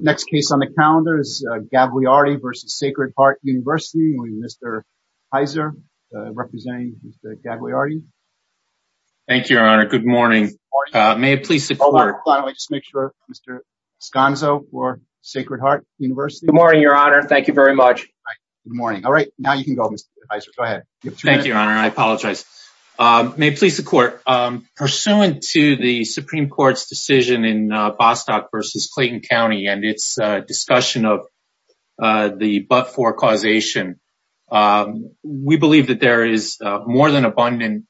Next case on the calendar is Gagliardi v. Sacred Heart University. We have Mr. Heiser representing Mr. Gagliardi. Thank you, your honor. Good morning. May it please the court. Why don't we just make sure Mr. Escanso for Sacred Heart University. Good morning, your honor. Thank you very much. Good morning. All right, now you can go, Mr. Heiser. Go ahead. Thank you, your honor. I apologize. May it please the court. Pursuant to the Supreme Court's Bostock v. Clayton County and its discussion of the but-for causation, we believe that there is more than abundant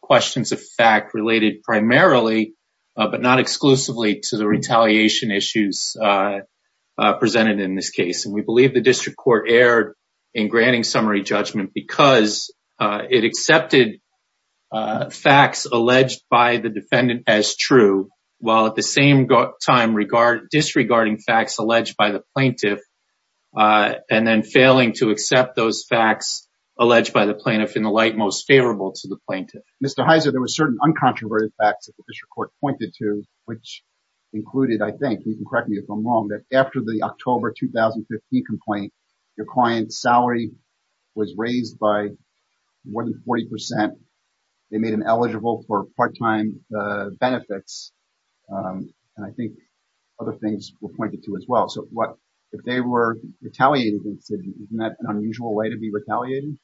questions of fact related primarily, but not exclusively, to the retaliation issues presented in this case. And we believe the district court erred in granting summary judgment because it accepted facts alleged by the defendant as true, while at the same time disregarding facts alleged by the plaintiff, and then failing to accept those facts alleged by the plaintiff in the light most favorable to the plaintiff. Mr. Heiser, there were certain uncontroverted facts that the district court pointed to, which included, I think, you can correct me if I'm wrong, that after the October 2015 complaint, your client's salary was raised by more than 40 percent. They made him eligible for part-time benefits, and I think other things were pointed to as well. So what, if they were retaliated against, isn't that an unusual way to be retaliated?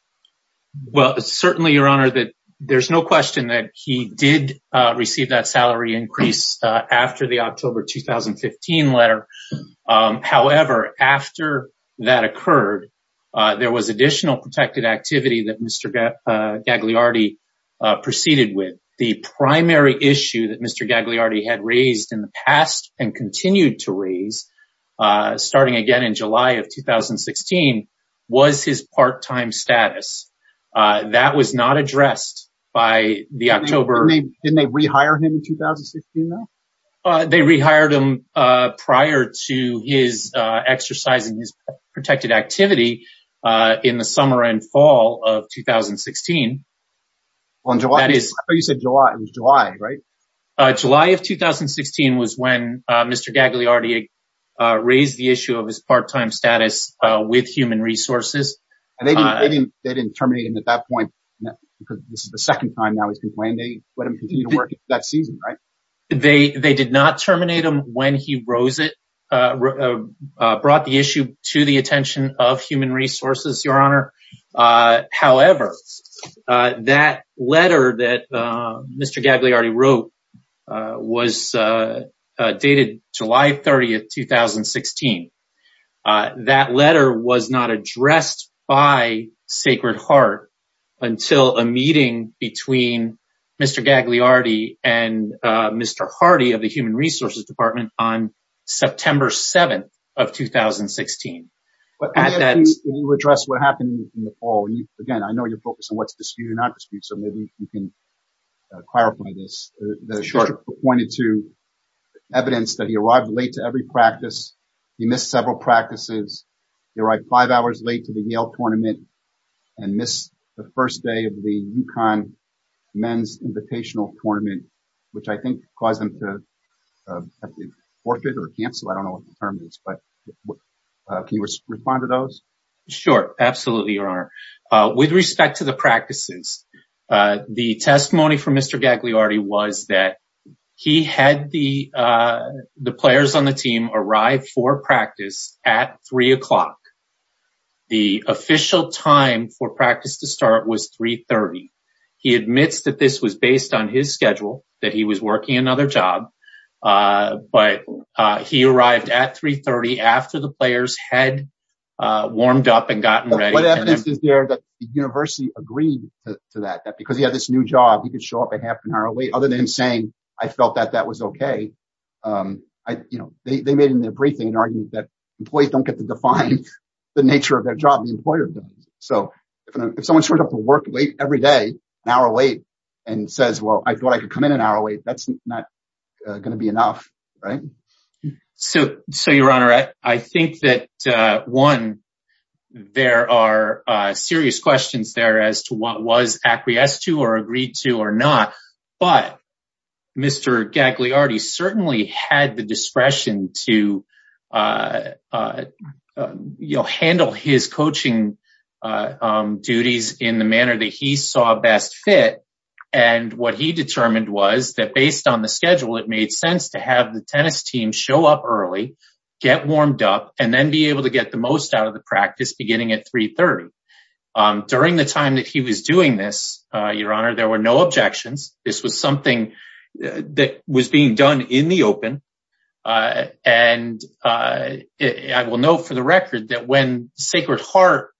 Well, certainly, your honor, that there's no question that he did receive that salary increase after the October 2015 letter. However, after that occurred, there was additional protected activity that Mr. Gagliardi proceeded with. The primary issue that Mr. Gagliardi had raised in the past and continued to raise, starting again in July of 2016, was his part-time status. That was not addressed by the October... Didn't they rehire him in 2016, though? They rehired him prior to his exercising his protected activity in the summer and fall of 2016. On July? I thought you said July. It was July, right? July of 2016 was when Mr. Gagliardi raised the issue of his part-time status with Human Resources. And they didn't terminate him at that point, because this is the second time now he's been They did not terminate him when he brought the issue to the attention of Human Resources, your honor. However, that letter that Mr. Gagliardi wrote was dated July 30th, 2016. That letter was not addressed by Sacred Heart until a meeting between Mr. Gagliardi and Mr. Hardy of the Human Resources Department on September 7th of 2016. May I ask you to address what happened in the fall? Again, I know you're focused on what's disputed and not disputed, so maybe you can clarify this. The sheriff pointed to evidence that he arrived late to every practice. He missed several practices. He arrived five hours late to the Yale tournament and missed the first day of the UConn men's invitational tournament, which I think caused him to forfeit or cancel. I don't know what the term is, but can you respond to those? Sure, absolutely, your honor. With respect to the practices, the testimony from Mr. Gagliardi was that he had the players on the team arrive for practice at three o'clock. The official time for practice to start was 3 30. He admits that this was based on his schedule, that he was working another job, but he arrived at 3 30 after the players had warmed up and gotten ready. What evidence is there that the university agreed to that? Because he had this new job, he could show up a half an hour late other than saying, I felt that that was okay. They made in their briefing an argument that employees don't get to define the nature of their job, the employer does. If someone showed up to work late every day, an hour late, and says, well, I thought I could come in an hour late, that's not going to be enough, right? So, your honor, I think that one, there are serious questions there as to what was acquiesced to or agreed to or not. But Mr. Gagliardi certainly had the discretion to handle his coaching duties in the manner that he saw best fit. And what he determined was that it made sense to have the tennis team show up early, get warmed up, and then be able to get the most out of the practice beginning at 3 30. During the time that he was doing this, your honor, there were no objections. This was something that was being done in the open. And I will note for the record that when Sacred Heart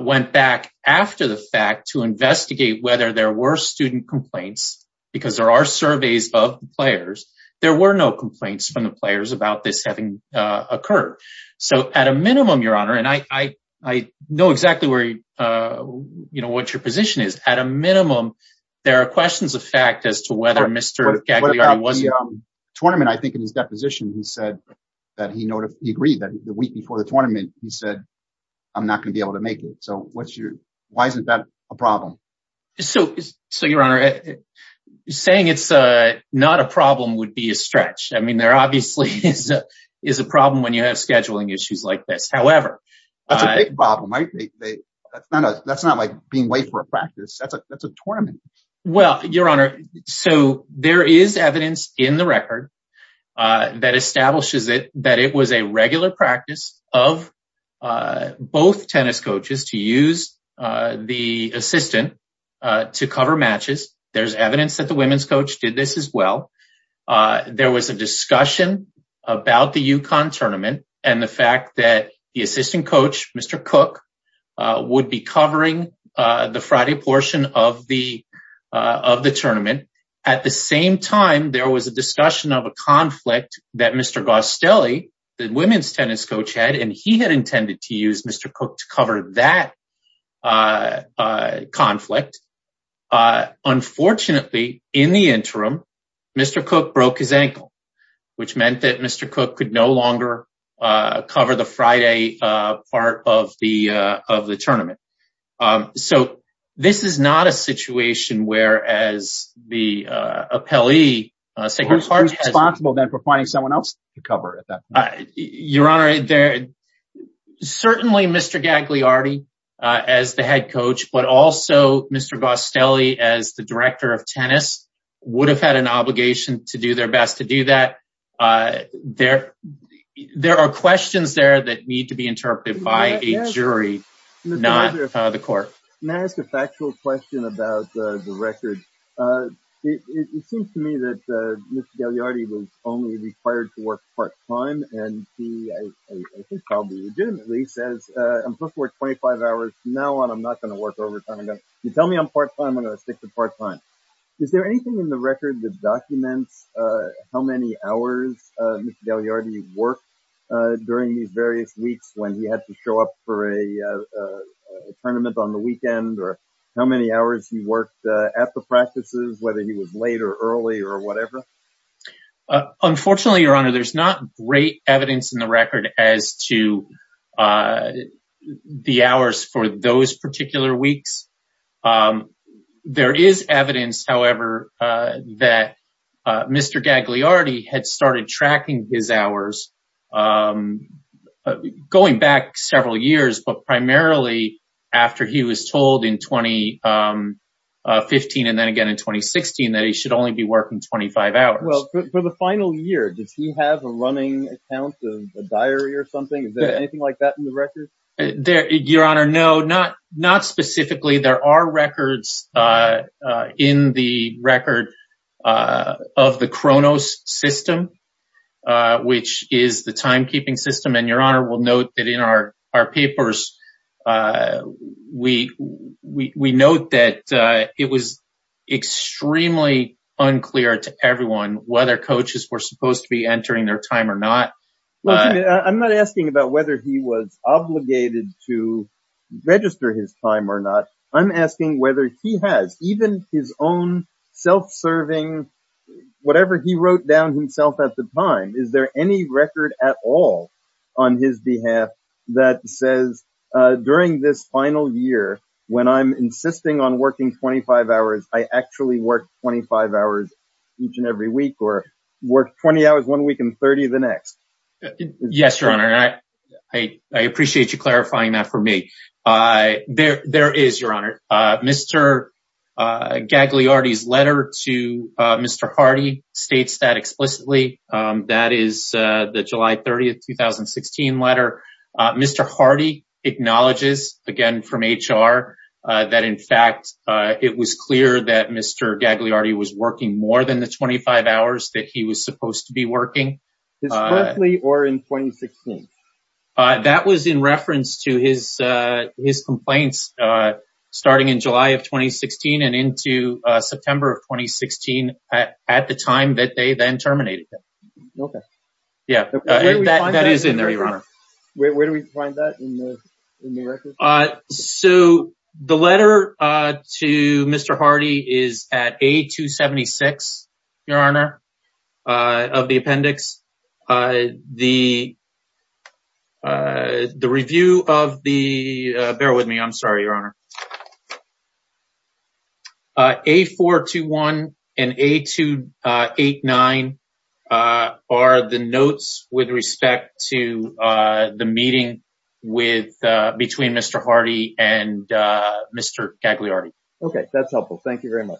went back after the fact to investigate whether there were student complaints, because there are surveys of players, there were no complaints from the players about this having occurred. So, at a minimum, your honor, and I know exactly where, you know, what your position is, at a minimum, there are questions of fact as to whether Mr. Gagliardi was- What about the tournament? I think in his deposition, he said that he agreed that the week before the tournament, he said, I'm not going to be able to So, your honor, saying it's not a problem would be a stretch. I mean, there obviously is a problem when you have scheduling issues like this. However- That's a big problem, right? That's not like being late for a practice. That's a tournament. Well, your honor, so there is evidence in the record that establishes that it was a regular practice of both tennis coaches to use the assistant to cover matches. There's evidence that the women's coach did this as well. There was a discussion about the UConn tournament and the fact that the assistant coach, Mr. Cook, would be covering the Friday portion of the tournament. At the same time, there was a discussion of a conflict that Mr. Gostelli, the women's tennis coach had, and he had intended to use Mr. Cook to cover that conflict. Unfortunately, in the interim, Mr. Cook broke his ankle, which meant that Mr. Cook could no longer cover the Friday part of the tournament. So, this is not a situation where the appellee- Who's responsible then for finding someone else to cover at that point? Your honor, certainly Mr. Gagliardi as the head coach, but also Mr. Gostelli as the director of tennis would have had an obligation to do their best to do that. There are questions there that need to be interpreted by a jury, not the court. May I ask a factual question about the record of Mr. Gagliardi? It seems to me that Mr. Gagliardi was only required to work part-time, and he, I think probably legitimately, says, I'm supposed to work 25 hours from now on, I'm not going to work overtime. You tell me I'm part-time, I'm going to stick to part-time. Is there anything in the record that documents how many hours Mr. Gagliardi worked during these various weeks when he had to show up for a tournament on the weekend, or how many hours he worked at the practices, whether he was late or early or whatever? Unfortunately, your honor, there's not great evidence in the record as to the hours for those particular weeks. There is evidence, however, that Mr. Gagliardi had started tracking his hours going back several years, but primarily after he was told in 2015 and then again in 2016 that he should only be working 25 hours. For the final year, does he have a running account, a diary or something? Is there anything like that in the record? Your honor, no, not which is the timekeeping system, and your honor will note that in our papers we note that it was extremely unclear to everyone whether coaches were supposed to be entering their time or not. I'm not asking about whether he was obligated to register his time or not. I'm asking whether he even has his own self-serving, whatever he wrote down himself at the time, is there any record at all on his behalf that says during this final year when I'm insisting on working 25 hours, I actually work 25 hours each and every week or work 20 hours one week and 30 the next? Yes, your honor. I appreciate you clarifying that for me. There is, your honor, Mr. Gagliardi's letter to Mr. Hardy states that explicitly. That is the July 30, 2016 letter. Mr. Hardy acknowledges, again from HR, that in fact it was clear that Mr. Gagliardi was working more than the 25 hours that he was supposed to be working. Is it currently or in 2016? That was in reference to his complaints starting in July of 2016 and into September of 2016 at the time that they then terminated him. Okay. Yeah, that is in there, your honor. Where do we find that in the record? So the letter to Mr. Hardy is at A-276, your honor, of the appendix. The review of the, bear with me, I'm sorry, your honor. A-421 and A-289 are the notes with respect to the meeting between Mr. Hardy and Mr. Gagliardi. Okay, that's helpful. Thank you very much.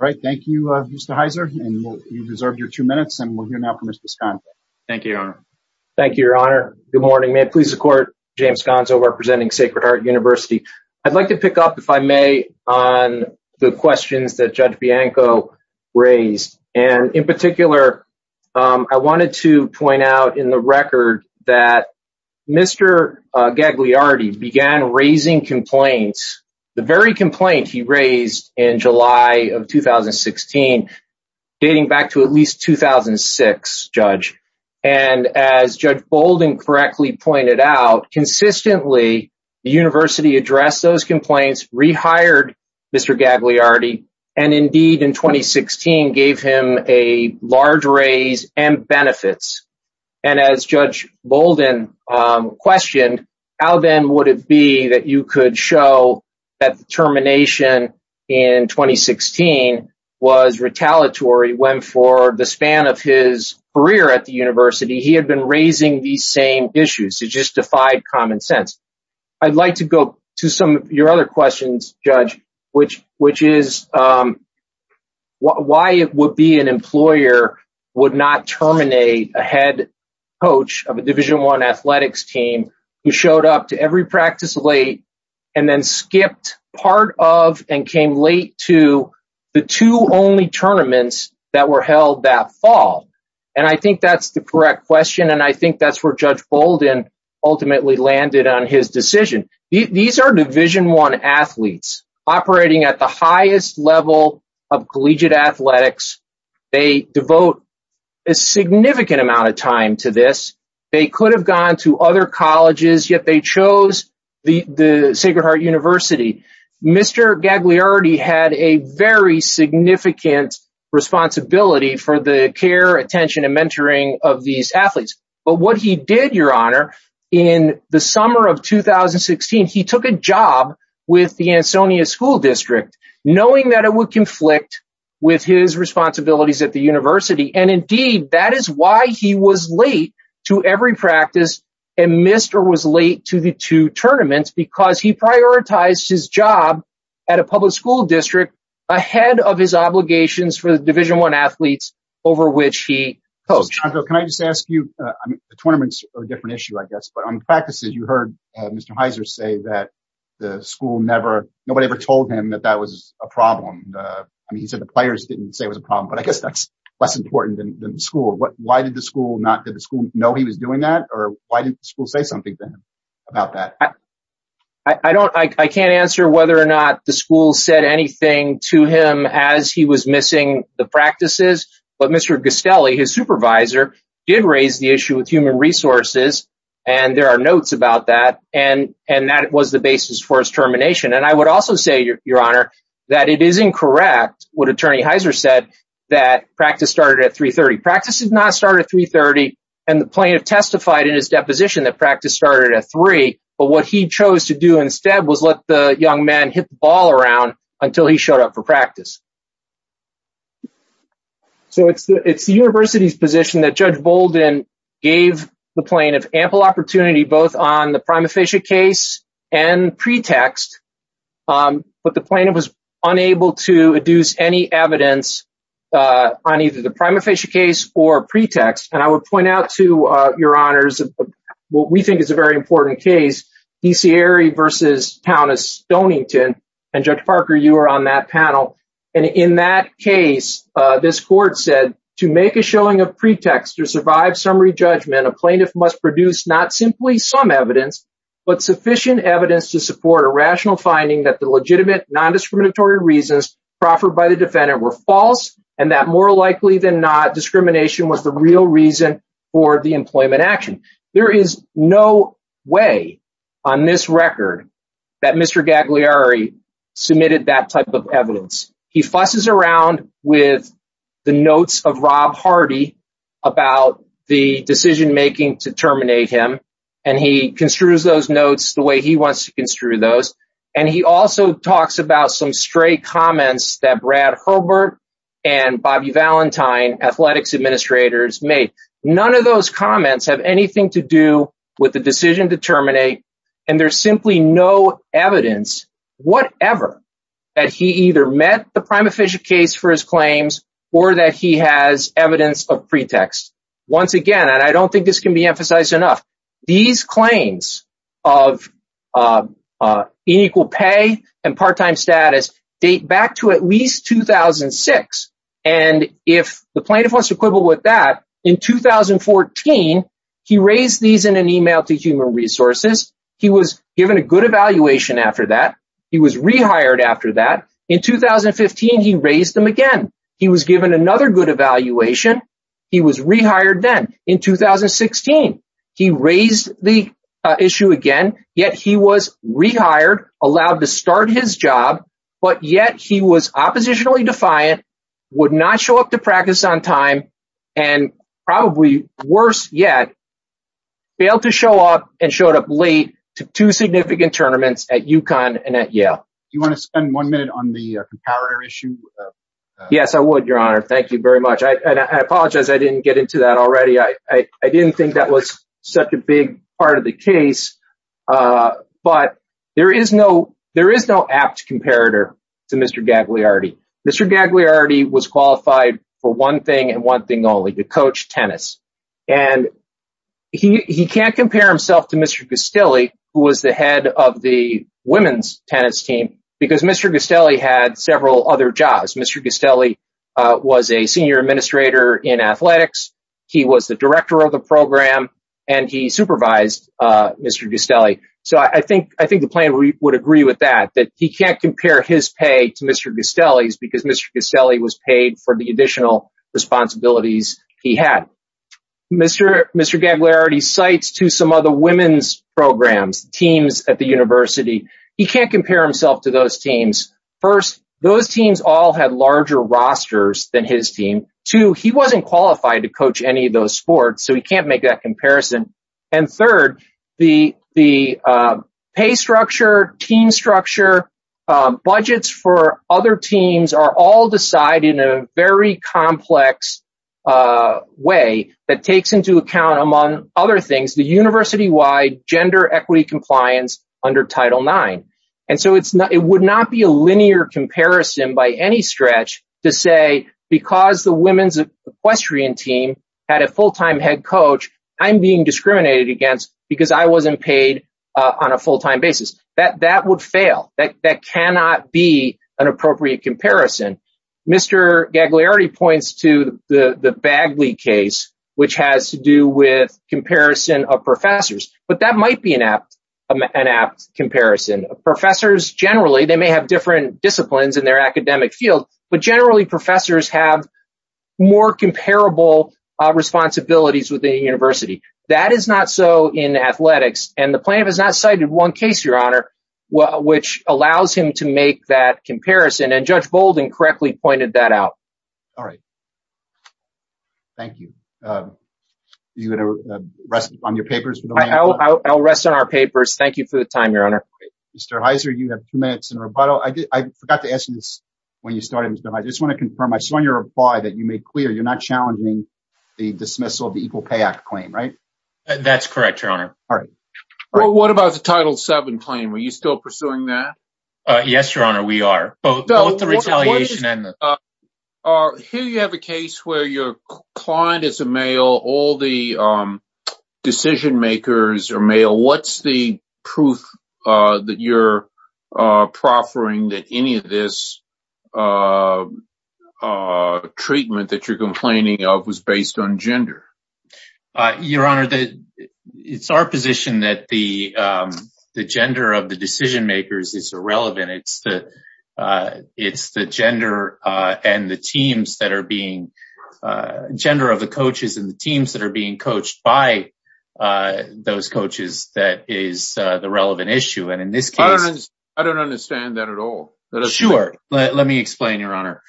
All right. Thank you, Mr. Heiser. You've reserved your two minutes and we'll hear now from Mr. Sconzo. Thank you, your honor. Thank you, your honor. Good morning. May it please the court, James Sconzo representing Sacred Heart University. I'd like to pick up, if I may, on the questions that Judge Bianco raised. And in particular, I wanted to point out in the record that Mr. Gagliardi began raising complaints, the very complaint he raised in July of 2016, dating back to at least 2006, Judge. And as Judge Bolden correctly pointed out, consistently the university addressed those complaints, rehired Mr. Gagliardi, and indeed in 2016 gave him a large raise and benefits. And as Judge Bolden questioned, how then would it be that you could show that the termination in 2016 was retaliatory when for the span of his career at the university, he had been raising these same issues? It just defied common sense. I'd like to go to some of your other questions, Judge, which is why it would be an employer would not terminate a head coach of a Division I athletics team who showed up to every practice late and then skipped part of and came late to the two only tournaments that were held that fall. And I think that's the correct question. And I think that's where Judge Bolden ultimately landed on his decision. These are Division I athletes operating at the highest level of collegiate athletics. They devote a significant amount of time to this. They could have gone to other colleges, yet they chose the Sacred Heart University. Mr. Gagliardi had a very significant responsibility for the care, attention, and mentoring of these athletes. But what he did, Your Honor, in the summer of 2016, he took a job with the Ansonia School District, knowing that it would conflict with his responsibilities at the university. And indeed, that is why he was late to every practice and missed or was late to the two tournaments because he prioritized his job at a public school district ahead of his obligations for the Division I athletes over which he coached. Can I just ask you, the tournaments are a different issue, I guess, but on the practices, you heard Mr. Heiser say that the school never, nobody ever told him that that was a problem. I mean, he said the players didn't say it was a problem, but I guess that's less important than the school. Why did the school not, did the school know he was doing that? Or why didn't the school say something to him about that? I can't answer whether or not the school said anything to him as he was missing the practices. But Mr. Gastelli, his supervisor, did raise the issue with human resources. And there are notes about that. And that was the basis for his termination. And I would also say, Your Honor, that it is incorrect, what Attorney Heiser said, that practice started at 330. Practice did not start at 330. And the plaintiff testified in his deposition that practice started at three. But what he chose to do instead was let the young man hit the ball around until he showed up for practice. So it's the university's position that Judge Bolden gave the plaintiff ample opportunity both on the prima facie case and pretext. But the plaintiff was unable to adduce any evidence on either the prima facie case or pretext. And I would point out to Your Honors, what we think is a very important case, D.C. Airy versus Countess Stonington. And Judge Parker, you were on that panel. And in that case, this court said, to make a showing of pretext to survive summary judgment, a plaintiff must produce not simply some evidence, but sufficient evidence to support a rational finding that the legitimate non-discriminatory reasons proffered by the defendant were false, and that more likely than not, discrimination was the that Mr. Gagliari submitted that type of evidence. He fusses around with the notes of Rob Hardy about the decision making to terminate him. And he construes those notes the way he wants to construe those. And he also talks about some stray comments that Brad Herbert and Bobby Valentine, athletics administrators, made. None of those comments have anything to do with the decision to terminate. And there's simply no evidence, whatever, that he either met the prima facie case for his claims or that he has evidence of pretext. Once again, and I don't think this can be emphasized enough, these claims of unequal pay and part-time status date back to at least 2006. And if the plaintiff wants to quibble with that, in 2014, he raised these in an email to Human Resources. He was given a good evaluation after that. He was rehired after that. In 2015, he raised them again. He was given another good evaluation. He was rehired then. In 2016, he raised the issue again, yet he was rehired, allowed to start his job, but yet he was oppositionally defiant, would not show up to practice on time, and probably worse yet, failed to show up and showed up late to two significant tournaments at UConn and at Yale. Do you want to spend one minute on the comparator issue? Yes, I would, Your Honor. Thank you very much. I apologize I didn't get into that already. I didn't think that was such a big part of the case. But there is no apt comparator to Mr. Gagliardi. Mr. Gagliardi was qualified for one thing and one thing only, to coach tennis. And he can't compare himself to Mr. Gustelli, who was the head of the women's tennis team, because Mr. Gustelli had several other jobs. Mr. Gustelli was a senior administrator in athletics. He was the director of the program, and he supervised Mr. Gustelli. So I think the plaintiff would agree with that, that he can't compare his pay to Mr. Gustelli's because Mr. Gustelli was paid for the additional responsibilities he had. Mr. Gagliardi cites to some other women's programs, teams at the university. He can't compare himself to those teams. First, those teams all had larger rosters than his team. Two, he wasn't qualified to coach any of those sports, so he can't make that comparison. Third, the team structure, budgets for other teams are all decided in a very complex way that takes into account, among other things, the university-wide gender equity compliance under Title IX. And so it would not be a linear comparison by any stretch to say, because the women's equestrian team had a full-time head coach, I'm being discriminated against because I wasn't paid on a full-time basis. That would fail. That cannot be an appropriate comparison. Mr. Gagliardi points to the Bagley case, which has to do with comparison of professors, but that might be an apt comparison. Professors generally, they may have different disciplines in their academic field, but generally professors have more comparable responsibilities within a university. That is not so in athletics, and the plaintiff has not cited one case, Your Honor, which allows him to make that comparison, and Judge Bolden correctly pointed that out. All right. Thank you. Are you going to rest on your papers? I'll rest on our papers. Thank you for the time, Your Honor. Mr. Heiser, you have two minutes in rebuttal. I forgot to ask you this when you started, Mr. Heiser. I just want to confirm. I saw in your reply that you made clear you're not challenging the dismissal of the Equal Pay Act claim, right? That's correct, Your Honor. All right. Well, what about the Title VII claim? Are you still pursuing that? Yes, Your Honor, we are, both the retaliation and the... Here you have a case where your client is a male. All the decision makers are male. What's the gender? Your Honor, it's our position that the gender of the decision makers is irrelevant. It's the gender of the coaches and the teams that are being coached by those coaches that is the relevant issue, and in this case... I don't understand that at all. Sure. Let me explain, Your Honor.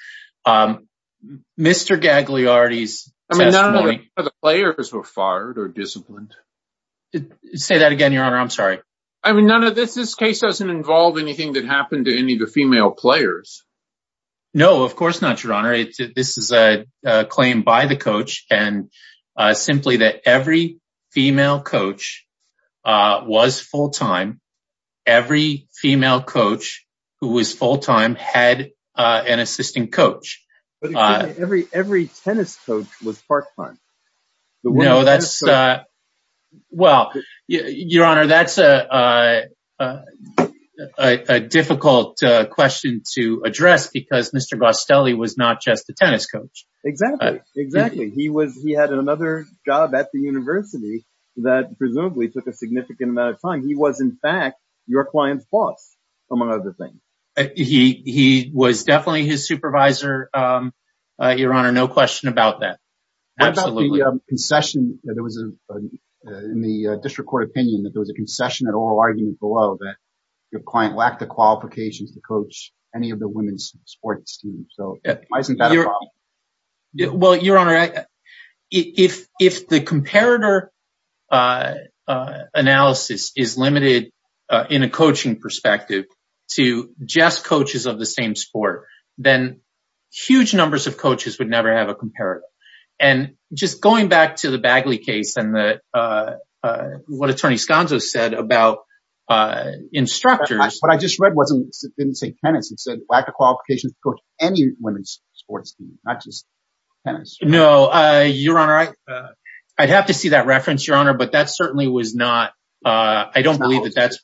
Mr. Gagliardi's testimony... I mean, none of the players were fired or disciplined. Say that again, Your Honor. I'm sorry. I mean, this case doesn't involve anything that happened to any of the female players. No, of course not, Your Honor. This is a claim by the coach and simply that every female coach was full-time. Every female coach who was full-time had an assistant coach. Every tennis coach was part-time. No, that's... Well, Your Honor, that's a difficult question to address because Mr. Bostelli was not just a tennis coach. Exactly. He had another job at the university that presumably took a significant amount of time. He was, in fact, your client's boss, among other things. He was definitely his supervisor, Your Honor. No question about that. Absolutely. What about the concession? There was, in the district court opinion, that there was a concession at oral argument below that your client lacked the qualifications to coach any of the women's sports teams. So why isn't that a problem? Well, Your Honor, if the comparator analysis is limited in a coaching perspective to just coaches of the same sport, then huge numbers of coaches would never have a comparator. And just going back to the Bagley case and what Attorney Sconzo said about instructors... What I just read didn't say tennis. It said lack qualifications to coach any women's sports team, not just tennis. No, Your Honor. I'd have to see that reference, Your Honor, but that certainly was not... I don't believe that that's...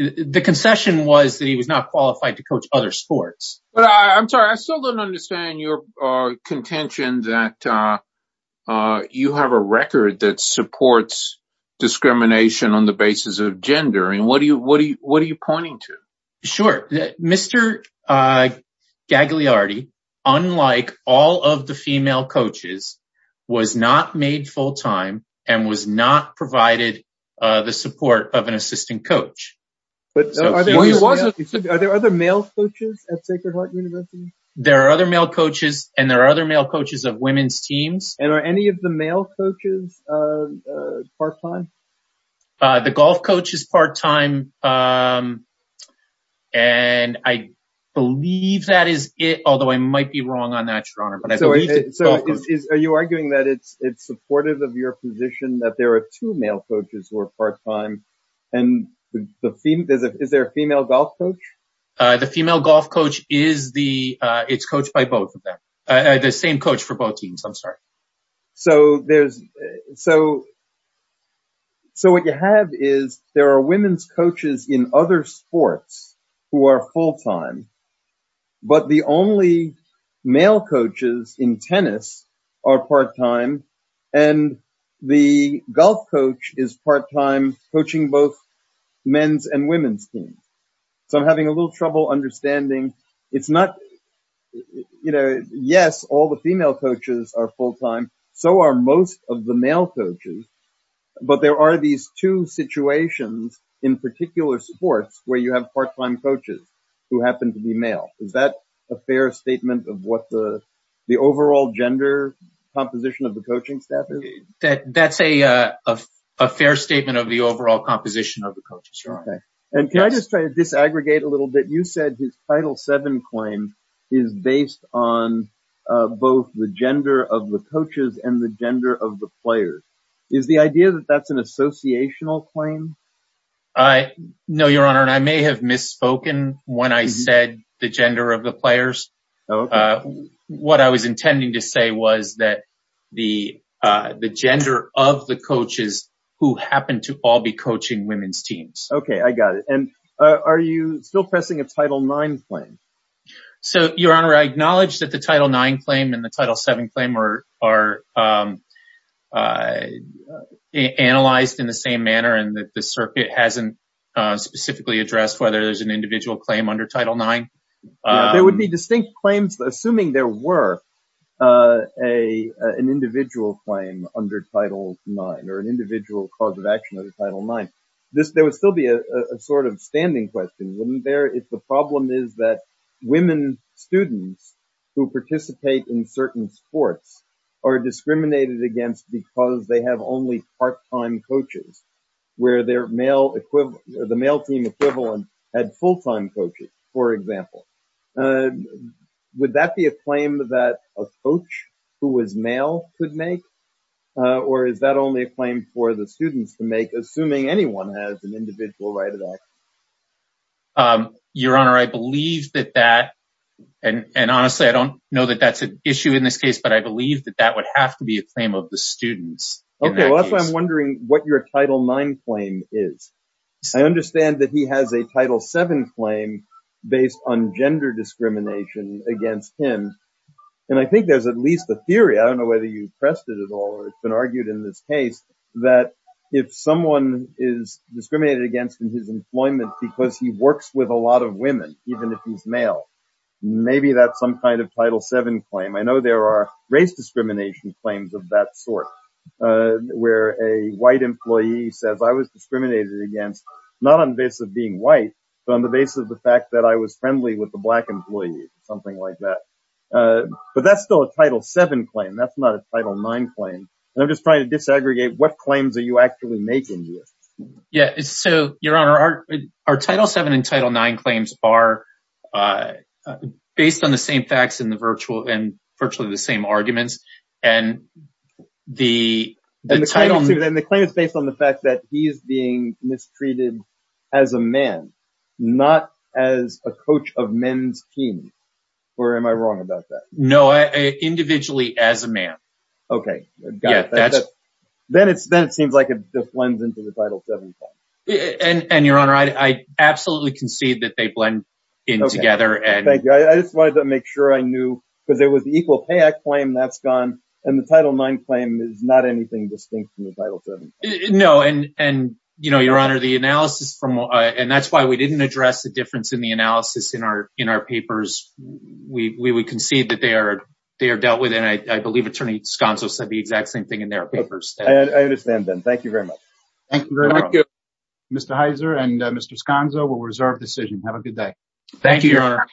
The concession was that he was not qualified to coach other sports. But I'm sorry. I still don't understand your contention that you have a record that supports discrimination on the basis of gender. And what are you pointing to? Sure. Mr. Gagliardi, unlike all of the female coaches, was not made full-time and was not provided the support of an assistant coach. Are there other male coaches at Sacred Heart University? There are other male coaches and there are other male coaches of women's teams. And are any of the male coaches part-time? The golf coach is part-time. And I believe that is it, although I might be wrong on that, Your Honor. Are you arguing that it's supportive of your position that there are two male coaches who are part-time? And is there a female golf coach? The female golf coach is coached by both of them. The same coach for both teams. I'm sorry. So there's... So what you have is there are women's coaches in other sports who are full-time, but the only male coaches in tennis are part-time. And the golf coach is part-time coaching both men's and women's teams. So I'm having a little trouble understanding. It's not... Yes, all the female coaches are full-time. So are most of the male coaches. But there are these two situations in particular sports where you have part-time coaches who happen to be male. Is that a fair statement of what the overall gender composition of the coaching staff is? That's a fair statement of the overall composition of the coaches. And can I just try to disaggregate a little bit? You said his Title VII claim is based on both the gender of the coaches and the gender of the players. Is the idea that that's an associational claim? I know, Your Honor, and I may have misspoken when I said the gender of the players. What I was intending to say was that the gender of the coaches who happen to all be coaching women's teams. Okay, I got it. And are you still pressing a Title IX claim? So, Your Honor, I acknowledge that the Title IX claim and the Title VII claim are analyzed in the same manner and that the circuit hasn't specifically addressed whether there's an individual claim under Title IX. There would be distinct claims, assuming there were an individual claim under Title IX or an individual claim under Title IX. The problem is that women students who participate in certain sports are discriminated against because they have only part-time coaches, where the male team equivalent had full-time coaches, for example. Would that be a claim that a coach who was male could make? Or is that only a claim for the students to make, assuming anyone has an individual right of choice? Your Honor, I believe that that, and honestly, I don't know that that's an issue in this case, but I believe that that would have to be a claim of the students. Okay, that's why I'm wondering what your Title IX claim is. I understand that he has a Title VII claim based on gender discrimination against him. And I think there's at least a theory, I don't know whether you pressed it at all, but it's been argued in this case, that if someone is discriminated against in his employment because he works with a lot of women, even if he's male, maybe that's some kind of Title VII claim. I know there are race discrimination claims of that sort, where a white employee says, I was discriminated against, not on the basis of being white, but on the basis of the fact that I was friendly with the black employee, something like that. But that's still a Title VII claim, that's not a Title IX claim. And I'm just trying to disaggregate what claims are you actually making here? Yeah, so, Your Honor, our Title VII and Title IX claims are based on the same facts and virtually the same arguments. And the title... And the claim is based on the fact that he is being mistreated as a man, not as a coach of men's team. Or am I wrong about that? No, individually as a man. Okay, got it. Then it seems like it just blends into the Title VII claim. And Your Honor, I absolutely concede that they blend in together. Okay, thank you. I just wanted to make sure I knew, because there was the Equal Pay Act claim, that's gone. And the Title IX claim is not anything distinct from the Title VII claim. No, and Your Honor, the analysis from... And that's why we didn't address the difference in the analysis in our papers. We concede that they are dealt with. And I believe Attorney Sconzo said the exact same thing in their papers. I understand then. Thank you very much. Thank you very much. Mr. Heiser and Mr. Sconzo, we'll reserve decision. Have a good day. Thank you, Your Honor.